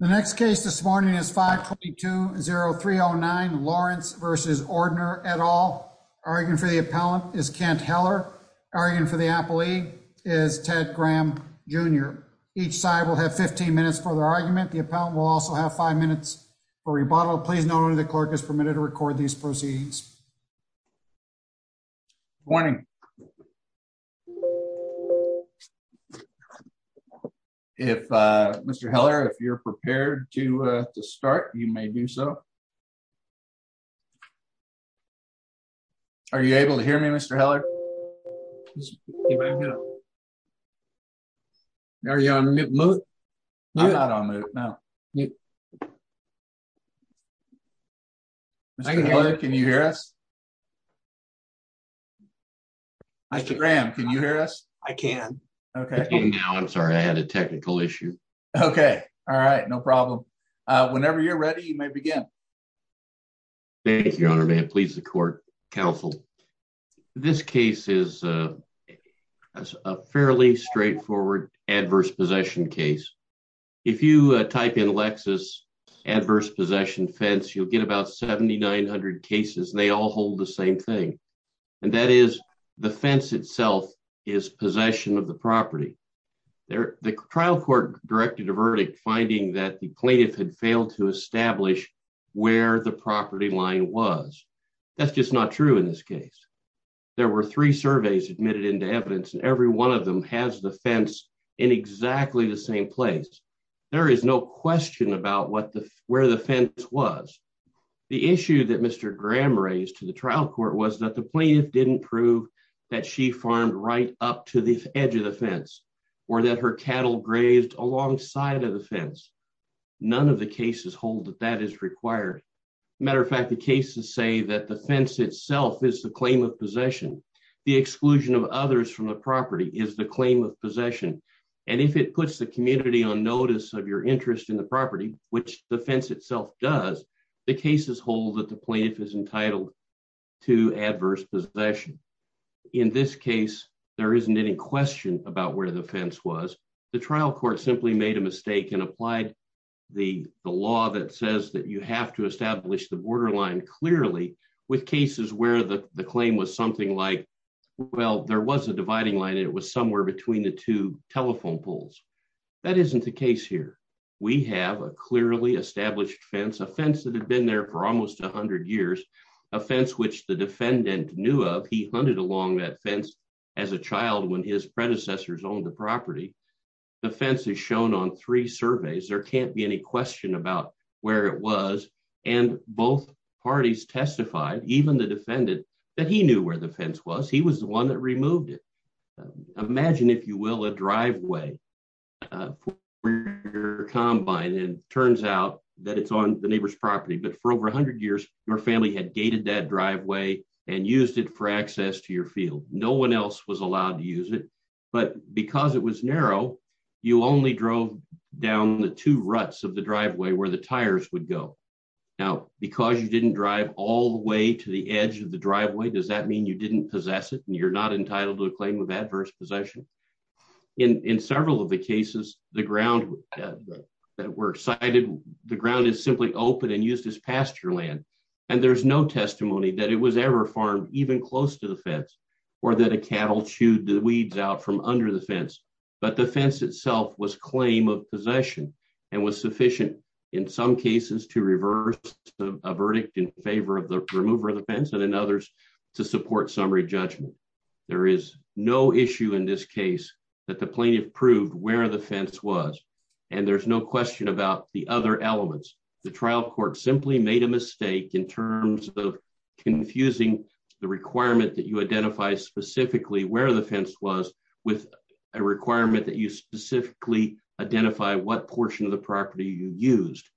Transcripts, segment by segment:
The next case this morning is 522-0309 Lawrence v. Ordner et al. Arguing for the appellant is Kent Heller. Arguing for the appellee is Ted Graham Jr. Each side will have 15 minutes for their argument. The appellant will also have five minutes for rebuttal. Please note only the clerk is permitted to record these proceedings. Good morning. If Mr. Heller, if you're prepared to start, you may do so. Are you able to hear me Mr. Heller? Are you on mute? I'm not on mute now. Mr. Heller, can you hear us? Mr. Graham, can you hear us? I can. I'm sorry, I had a technical issue. Okay, all right, no problem. Whenever you're ready, you may begin. Thank you, Your Honor. May it please the court. Counsel, this case is a fairly straightforward adverse possession case. If you type in Lexis adverse possession fence, you'll get about 7,900 cases and they all hold the same thing. And that is the fence itself is possession of the property. The trial court directed a verdict finding that the plaintiff had failed to establish where the property line was. That's just not true in this case. There were three surveys admitted into evidence and every one of them has the fence in exactly the same place. There is no question about where the fence was. The issue that Mr. Graham raised to the trial court was that the plaintiff didn't prove that she farmed right up to the edge of the fence or that her cattle grazed alongside of the fence. None of the cases hold that that is required. Matter of fact, the cases say that the fence itself is the claim of possession. The exclusion of others from the property is the claim of possession. And if it puts the community on notice of your interest in the property, which the fence itself does, the cases hold that the plaintiff is entitled to adverse possession. In this case, there isn't any question about where the fence was. The trial court simply made a mistake and applied the law that says that you have to establish the borderline clearly with cases where the claim was something like, well, there was a dividing line and it was somewhere between the two telephone poles. That isn't the case here. We have a clearly established fence, a fence that had been there for almost 100 years, a fence which the defendant knew of. He hunted along that fence as a child when his there can't be any question about where it was. And both parties testified, even the defendant, that he knew where the fence was. He was the one that removed it. Imagine, if you will, a driveway combine and turns out that it's on the neighbor's property. But for over 100 years, your family had gated that driveway and used it for access to your field. No one else was down the two ruts of the driveway where the tires would go. Now, because you didn't drive all the way to the edge of the driveway, does that mean you didn't possess it and you're not entitled to a claim of adverse possession? In several of the cases, the ground that were cited, the ground is simply open and used as pasture land. And there's no testimony that it was ever farmed even close to the fence or that a cattle chewed the weeds out from under the fence. But the fence itself was possession and was sufficient in some cases to reverse a verdict in favor of the remover of the fence and in others to support summary judgment. There is no issue in this case that the plaintiff proved where the fence was. And there's no question about the other elements. The trial court simply made a mistake in terms of confusing the requirement that you identify specifically where the fence was with a requirement that you specifically identify what portion of the property you used.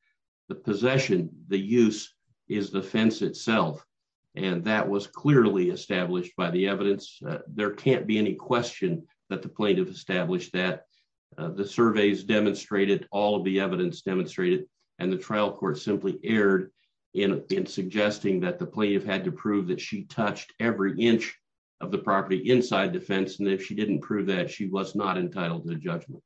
The possession, the use, is the fence itself. And that was clearly established by the evidence. There can't be any question that the plaintiff established that. The surveys demonstrated all of the evidence demonstrated. And the trial court simply erred in suggesting that the plaintiff had to prove that she touched every inch of the property inside the fence. And if she didn't prove that, she was not entitled to the judgment.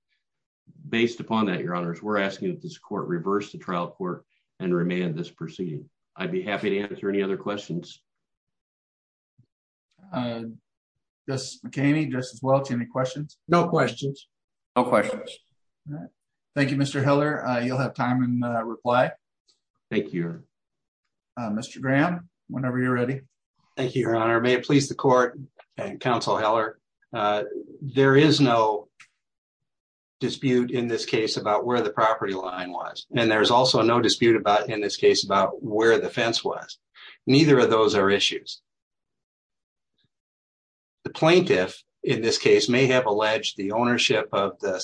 Based upon that, your honors, we're asking that this court reverse the trial court and remand this proceeding. I'd be happy to answer any other questions. Justice McCaney, Justice Welch, any questions? No questions. No questions. All right. Thank you, Mr. Heller. You'll have time and reply. Thank you. Mr. Graham, whenever you're ready. Thank you, your honor. May it please the court and counsel Heller. There is no dispute in this case about where the property line was. And there's also no dispute about in this case about where the fence was. Neither of those are issues. The plaintiff in this case may have alleged the ownership of the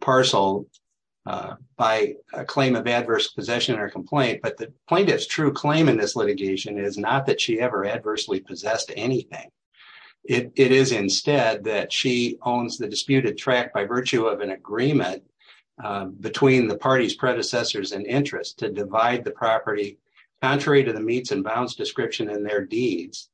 property by a claim of adverse possession or complaint. But the plaintiff's true claim in this litigation is not that she ever adversely possessed anything. It is instead that she owns the disputed track by virtue of an agreement between the party's predecessors and interests to divide the property contrary to the meets and bounds description in their deeds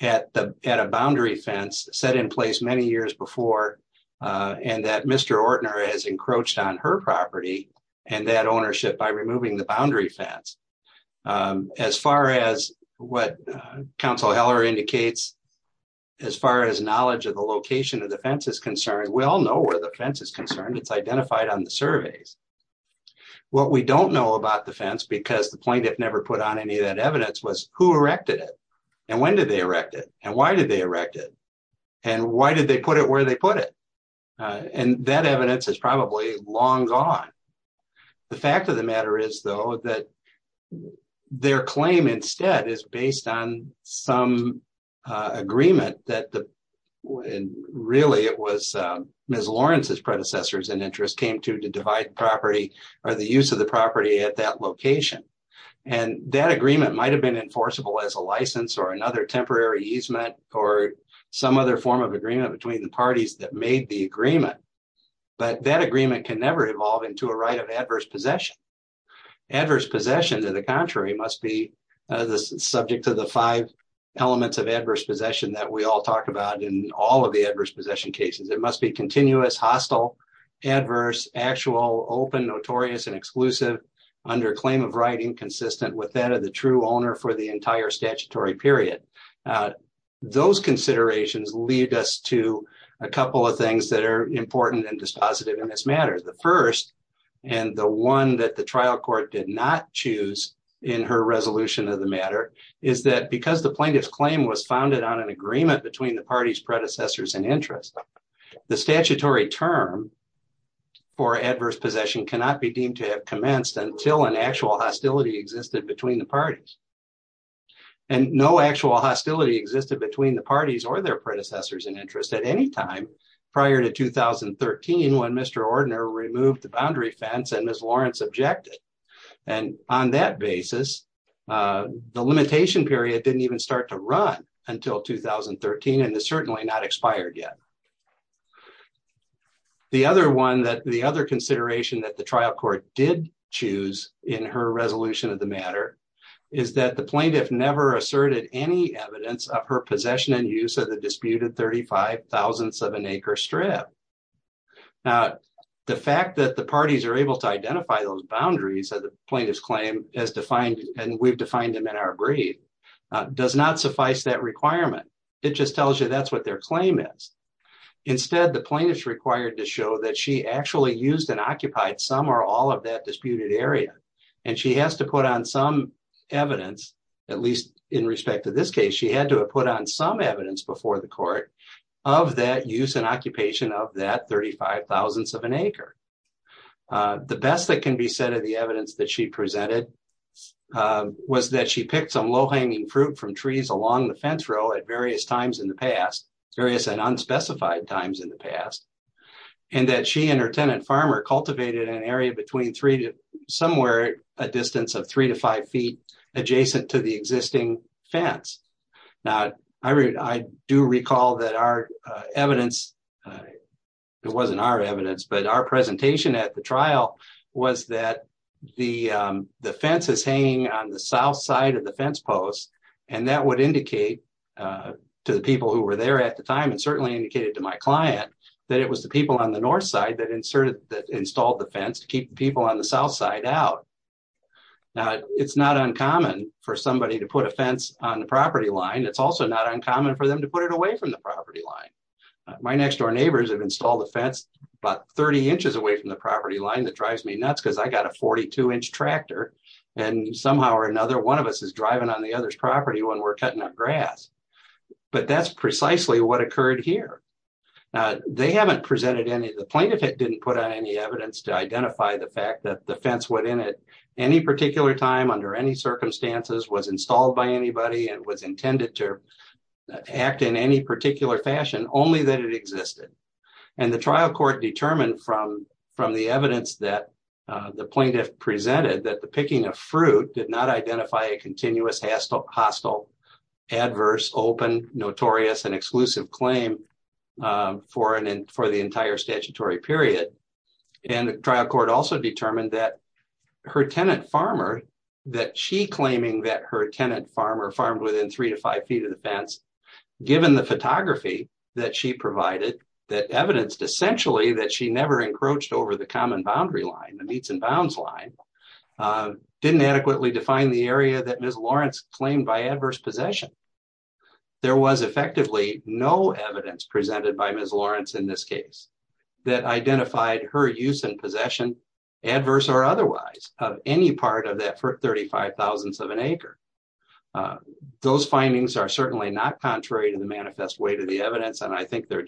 at a boundary fence set in place many years before and that Mr. Ortner has encroached on her property and that ownership by removing the boundary fence. As far as what counsel Heller indicates, as far as knowledge of the location of the fence is concerned, we all know where the fence is concerned. It's identified on the surveys. What we don't know about the fence because the plaintiff never put on any of that evidence was who erected it and when did they erect it and why did they put it where they put it. And that evidence is probably long gone. The fact of the matter is though that their claim instead is based on some agreement that the really it was Ms. Lawrence's predecessors and interest came to to divide property or the use of the property at that location. And that agreement might have been enforceable as a license or another temporary easement or some other form of agreement between the parties that made the agreement. But that agreement can never evolve into a right of adverse possession. Adverse possession to the contrary must be subject to the five elements of adverse possession that we all talk about in all of the adverse possession cases. It must be continuous, hostile, adverse, actual, open, notorious, and exclusive under claim of right inconsistent with that of the true owner for the entire statutory period. Those considerations lead us to a couple of things that are important and dispositive in this matter. The first and the one that the trial court did not choose in her resolution of the matter is that because the plaintiff's claim was founded on an agreement between the party's predecessors and interest, the statutory term for adverse possession cannot be deemed to have commenced until an actual hostility existed between the parties. And no actual hostility existed between the parties or their predecessors in interest at any time prior to 2013 when Mr. Ordner removed the boundary fence and Ms. Lawrence objected. And on that basis, the limitation period didn't even start to run until 2013 and has certainly not expired yet. The other consideration that the trial court did choose in her resolution of the plaintiff never asserted any evidence of her possession and use of the disputed 35,000th of an acre strip. Now, the fact that the parties are able to identify those boundaries of the plaintiff's claim as defined and we've defined them in our brief does not suffice that requirement. It just tells you that's what their claim is. Instead, the plaintiff is required to show that she actually used and occupied some or all of that disputed area. And she has to put on some evidence, at least in respect to this case, she had to have put on some evidence before the court of that use and occupation of that 35,000th of an acre. The best that can be said of the evidence that she presented was that she picked some low-hanging fruit from trees along the fence row at various times in the past and that she and her tenant farmer cultivated an area between three to somewhere a distance of three to five feet adjacent to the existing fence. Now, I do recall that our evidence, it wasn't our evidence, but our presentation at the trial was that the fence is hanging on the south side of the fence post and that would indicate to the people who were there at the time and certainly indicated to my client that it was the people on the north side that inserted, that installed the fence to keep people on the south side out. Now, it's not uncommon for somebody to put a fence on the property line. It's also not uncommon for them to put it away from the property line. My next door neighbors have installed a fence about 30 inches away from the property line that drives me nuts because I got a 42-inch tractor and somehow or another one of us is driving on the other's property when we're cutting up grass. But that's precisely what occurred here. They haven't presented any, the plaintiff didn't put on any evidence to identify the fact that the fence within it any particular time under any circumstances was installed by anybody and was intended to act in any particular fashion, only that it existed. And the trial court determined from the evidence that the plaintiff presented that the picking of fruit did not identify a hostile, adverse, open, notorious, and exclusive claim for the entire statutory period. And the trial court also determined that her tenant farmer, that she claiming that her tenant farmer farmed within three to five feet of the fence, given the photography that she provided that evidenced essentially that she never encroached over the common boundary line, the meets and bounds line, didn't adequately define the area that Ms. Lawrence claimed by adverse possession. There was effectively no evidence presented by Ms. Lawrence in this case that identified her use and possession, adverse or otherwise, of any part of that 35,000th of an acre. Those findings are certainly not contrary to the manifest way to the evidence and I think they're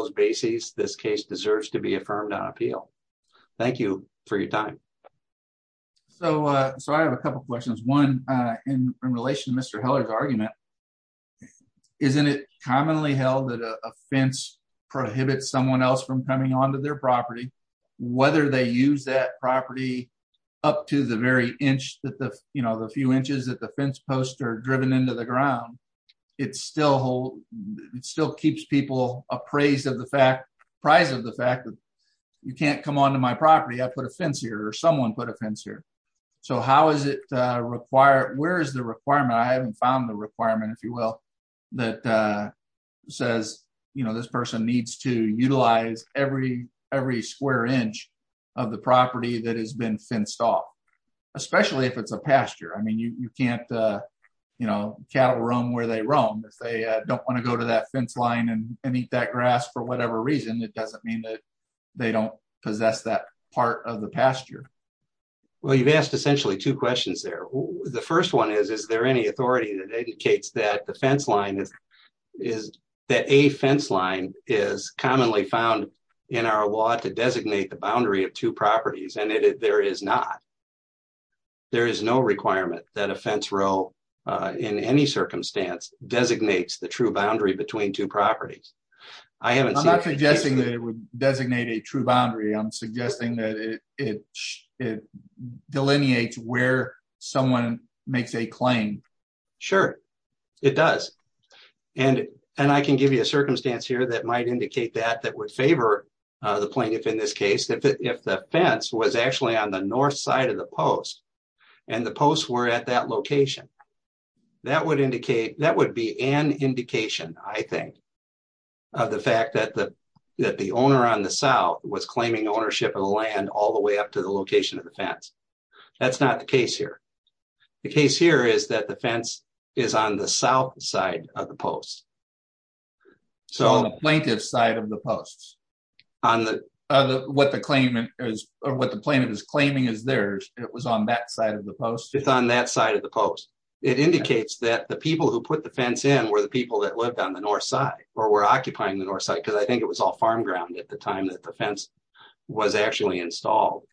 this case deserves to be affirmed on appeal. Thank you for your time. So I have a couple questions. One in relation to Mr. Heller's argument, isn't it commonly held that a fence prohibits someone else from coming onto their property? Whether they use that property up to the very inch that the, you know, the few inches that fence posts are driven into the ground, it still keeps people appraised of the fact, apprised of the fact that you can't come onto my property, I put a fence here or someone put a fence here. So how is it required, where is the requirement? I haven't found the requirement, if you will, that says, you know, this person needs to utilize every square inch of the property that has been used. You can't, you know, cattle roam where they roam. If they don't want to go to that fence line and eat that grass for whatever reason, it doesn't mean that they don't possess that part of the pasture. Well, you've asked essentially two questions there. The first one is, is there any authority that indicates that the fence line is, that a fence line is commonly found in our law to in any circumstance designates the true boundary between two properties? I'm not suggesting that it would designate a true boundary, I'm suggesting that it delineates where someone makes a claim. Sure, it does. And I can give you a circumstance here that might indicate that, that would favor the plaintiff in this case, if the fence was actually on the north side of the post and the posts were at that location, that would indicate, that would be an indication, I think, of the fact that the, that the owner on the south was claiming ownership of the land all the way up to the location of the fence. That's not the case here. The case here is that the fence is on the south side of the post. So the plaintiff's side of the posts. On the, what the claimant is, or what the plaintiff is claiming is theirs, it was on that side of the post? It's on that side of the post. It indicates that the people who put the fence in were the people that lived on the north side, or were occupying the north side, because I think it was all farm ground at the time that the fence was actually installed.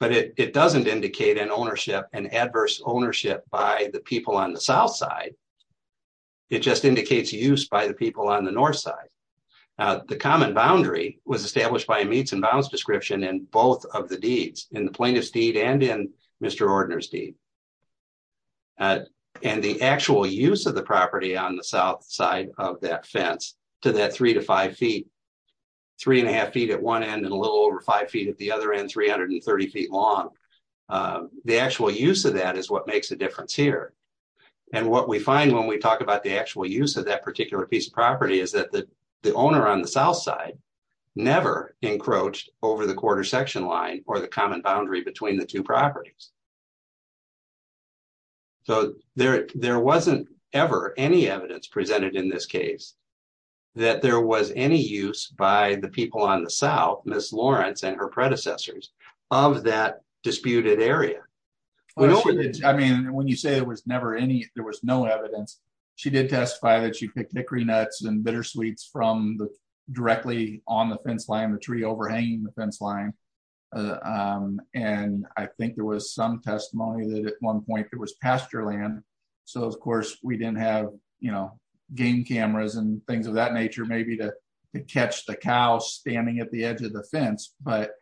But it doesn't indicate an ownership, an adverse ownership by the people on the south side, it just indicates use by the people on the north side. The common boundary was established by a meets and bounds description in both of the deeds, in the plaintiff's deed and in Mr. Ordner's deed. And the actual use of the property on the south side of that fence, to that three to five feet, three and a half feet at one end and a little over five feet at the other end, 330 feet long. The actual use of that is what makes a difference here. And what we find when we talk about the actual use of that particular piece of property is that the owner on the south side never encroached over the quarter section line or the common boundary between the two properties. So there wasn't ever any evidence presented in this case that there was any use by the people on the south, Ms. Lawrence and her predecessors, of that disputed area. I mean, when you say there was never any, there was no evidence, she did testify that she picked hickory nuts and bittersweets from the, directly on the fence line, the tree overhanging the fence line. And I think there was some testimony that at one point there was pasture land. So of course we didn't have, you know, game cameras and things of that nature, maybe to catch the cow standing at the edge of the fence, but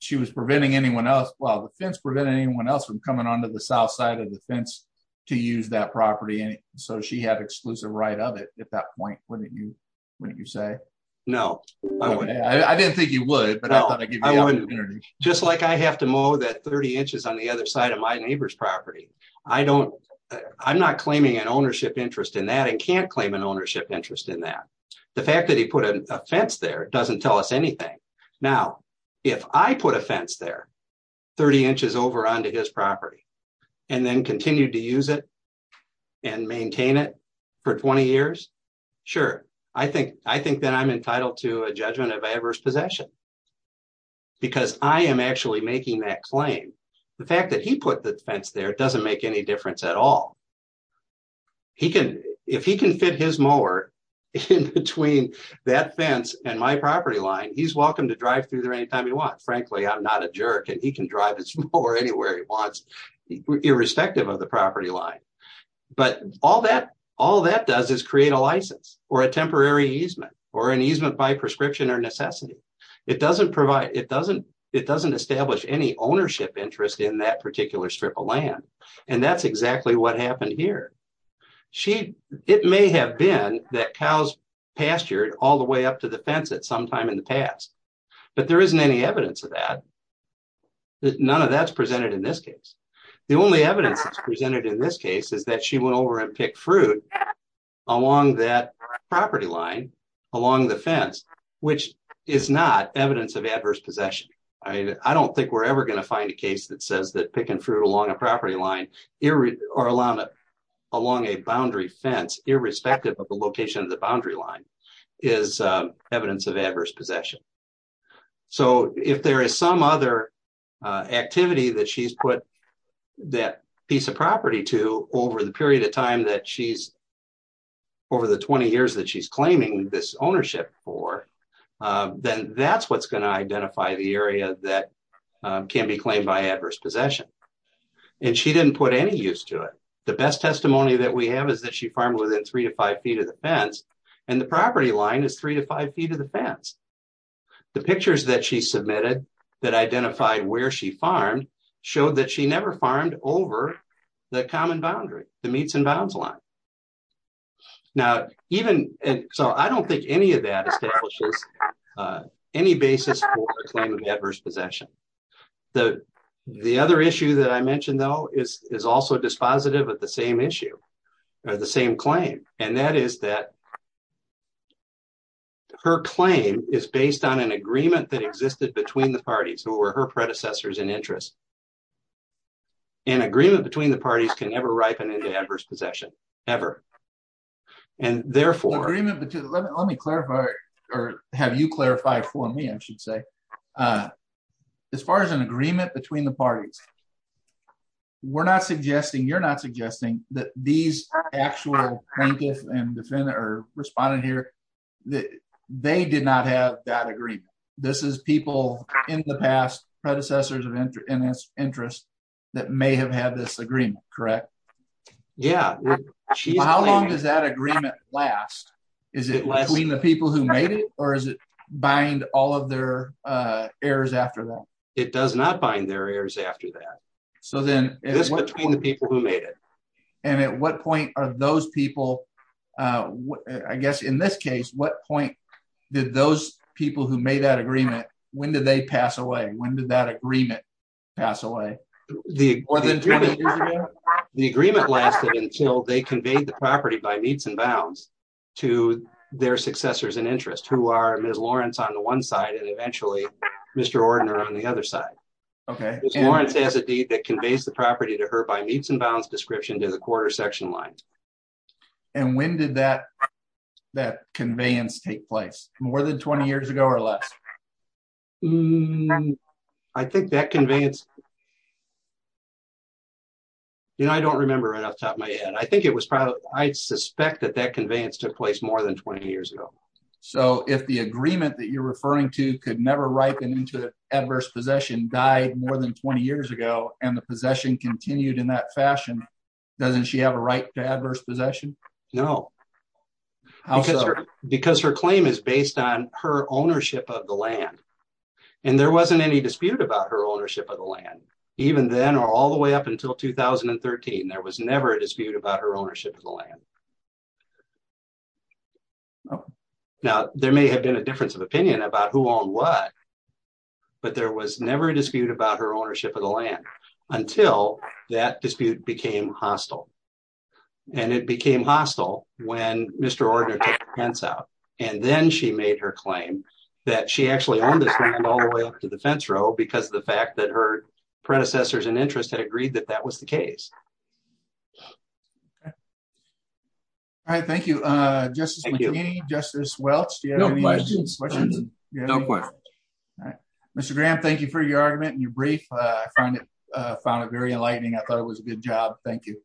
she was preventing anyone else. Well, the fence prevented anyone else from coming onto the south side of the fence to use that property. And so she had exclusive right of it at that point, wouldn't you say? No, I wouldn't. I didn't think you would, but I thought I'd give you an opportunity. Just like I have to mow that 30 inches on the other side of my neighbor's property. I don't, I'm not claiming an ownership interest in that and can't claim an ownership interest in that. The fact that he put a fence there doesn't tell us anything. Now, if I put a fence there, 30 inches over onto his property, and then continue to use it and maintain it for 20 years. Sure. I think, I think that I'm entitled to a judgment of adverse possession because I am actually making that claim. The fact that he put the fence there, it doesn't make any difference at all. He can, if he can fit his mower in between that fence and my property line, he's welcome to drive through there anytime he wants. Frankly, I'm not a jerk and he can drive his mower anywhere he wants, irrespective of the property line. But all that, all that does is create a license or a temporary easement or an easement by prescription or necessity. It doesn't provide, it doesn't, it doesn't establish any ownership interest in that particular strip of land. And that's exactly what happened here. She, it may have been that cows pastured all the way up to the fence at some time in the past, but there isn't any evidence of that. None of that's presented in this case. The only evidence that's presented in this case is that she went over and picked fruit along that property line, along the fence, which is not evidence of adverse possession. I don't think we're ever going to find a case that says that picking fruit along a property line or along a boundary fence, irrespective of the location of the boundary line is evidence of adverse possession. So if there is some other activity that she's put that piece of property to over the period of time that she's, over the 20 years that she's claiming this ownership for, then that's what's going to identify the area that can be claimed by adverse possession. And she didn't put any use to it. The best testimony that we have is that she farmed within three to five feet of the fence, and the property line is three to five feet of the fence. The pictures that she submitted that identified where she farmed showed that she never farmed over the common boundary, the meets and bounds line. So I don't think any of that establishes any basis for the claim of adverse possession. The other issue that I mentioned though is also dispositive of the same issue, the same claim, and that is that her claim is based on an agreement that existed between the parties who were her predecessors in interest. An agreement between the parties can never ripen into adverse possession, ever. And therefore... Let me clarify, or have you clarify for me, I should say. As far as an you're not suggesting that these actual plaintiffs and defendants are responding here, they did not have that agreement. This is people in the past predecessors of interest that may have had this agreement, correct? Yeah. How long does that agreement last? Is it between the people who made it, or does it bind all of their heirs after that? It does not bind their heirs after that. So then... It's between the people who made it. And at what point are those people, I guess in this case, what point did those people who made that agreement, when did they pass away? When did that agreement pass away? The agreement lasted until they conveyed the property by meets and bounds to their successors in interest who are Ms. Lawrence on the one side and eventually Mr. Ordner on the other side. Okay. Ms. Lawrence has a deed that conveys the property to her by meets and bounds description to the quarter section lines. And when did that conveyance take place? More than 20 years ago or less? I think that conveyance... I don't remember right off the top of my head. I think it was probably... I suspect that that agreement that you're referring to could never ripen into adverse possession, died more than 20 years ago and the possession continued in that fashion. Doesn't she have a right to adverse possession? No. Because her claim is based on her ownership of the land. And there wasn't any dispute about her ownership of the land. Even then, or all the way up until 2013, there was difference of opinion about who owned what. But there was never a dispute about her ownership of the land until that dispute became hostile. And it became hostile when Mr. Ordner took the fence out. And then she made her claim that she actually owned this land all the way up to the fence row because of the fact that her predecessors in interest had agreed that that was the case. Okay. All right. Thank you, Justice McKean. Justice Welch, do you have any questions? No questions. Mr. Graham, thank you for your argument and your brief. I found it very enlightening. I thought it was a good job. Thank you.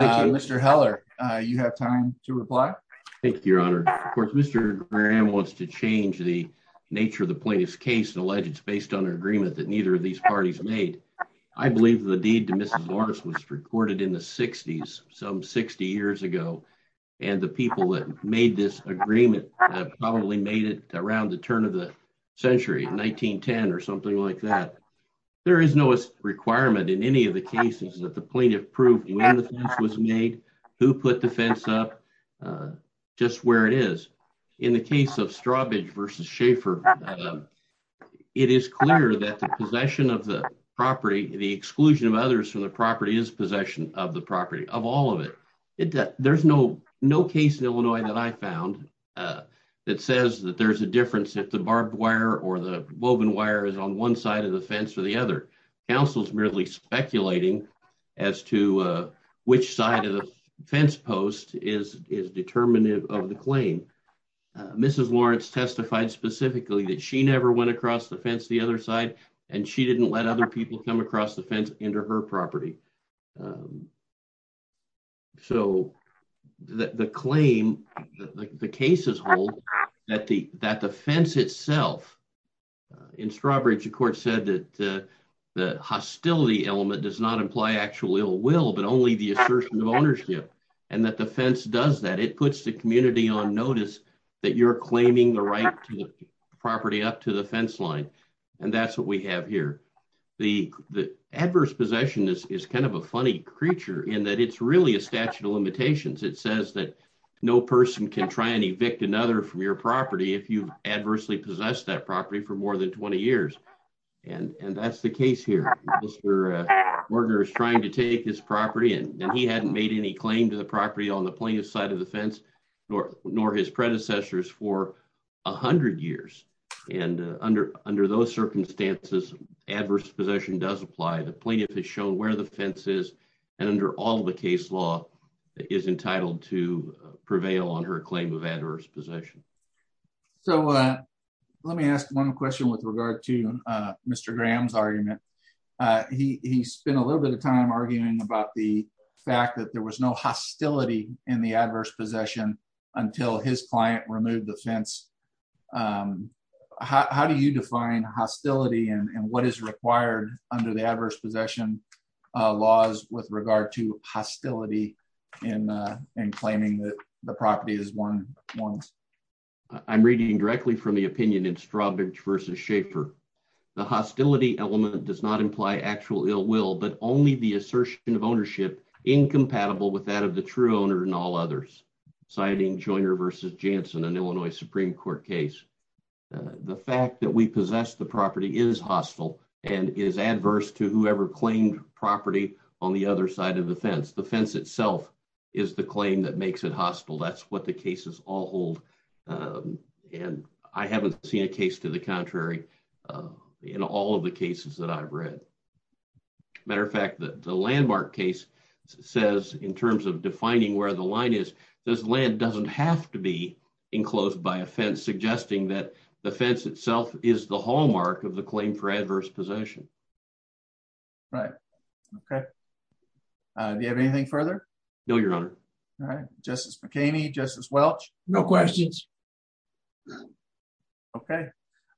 Mr. Heller, you have time to reply. Thank you, Your Honor. Of course, Mr. Graham wants to change the nature of the plaintiff's case and allege it's based on an agreement that neither of these parties made. I believe the deed to Mrs. Morris was recorded in the 60s, some 60 years ago. And the people that made this agreement probably made it around the turn of the century, 1910 or something like that. There is no requirement in any of the cases that the plaintiff proved when the fence was made, who put the fence up, just where it is. In the case of Strawbridge v. Schaefer, it is clear that the possession of the property, the exclusion of others from the property is possession of the property, of all of it. There's no case in Illinois that I found that says that there's a difference if the barbed wire or the woven wire is on one side of the fence or the other. Counsel's merely speculating as to which side of the fence post is determinative of the claim. Mrs. Lawrence testified specifically that she never went across the fence the other side, and she didn't let other people come across the fence into her property. So, the claim, the case is that the fence itself, in Strawbridge, the court said that the hostility element does not imply actual ill will, but only the assertion of ownership, and that the fence does that. It puts the community on notice that you're claiming the right property up to the fence line, and that's what we have here. The adverse possession is kind of a funny creature in that it's really a statute of limitations. It says that no person can try and evict another from your property if you've adversely possessed that property for more than 20 years, and that's the case here. Mr. Morganer is trying to take his property, and he hadn't made any claim to the property on the plaintiff's side of the fence, nor his predecessors for 100 years, and under those circumstances, adverse possession does apply. The plaintiff has shown where the fence is, and under all the case law, is entitled to prevail on her claim of adverse possession. So, let me ask one question with regard to Mr. Graham's argument. He spent a little bit of time arguing about the fact that there was no hostility in the adverse possession until his client removed the fence. How do you define hostility and what is required under the adverse possession laws with regard to hostility in claiming that the property is won once? I'm reading directly from the opinion in Schaefer. The hostility element does not imply actual ill will, but only the assertion of ownership incompatible with that of the true owner and all others, citing Joyner v. Jansen, an Illinois Supreme Court case. The fact that we possess the property is hostile and is adverse to whoever claimed property on the other side of the fence. The fence itself is the claim that in all of the cases that I've read. As a matter of fact, the landmark case says, in terms of defining where the line is, this land doesn't have to be enclosed by a fence, suggesting that the fence itself is the hallmark of the claim for adverse possession. Right. Okay. Do you have anything further? No, Your Honor. All right. Justice McKamey, Justice Welch? No questions. Okay.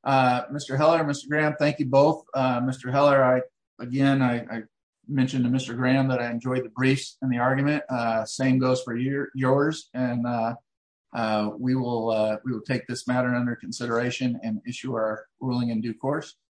Mr. Heller, Mr. Graham, thank you both. Mr. Heller, again, I mentioned to Mr. Graham that I enjoyed the briefs and the argument. Same goes for yours. We will take this matter under consideration and issue our ruling in due course.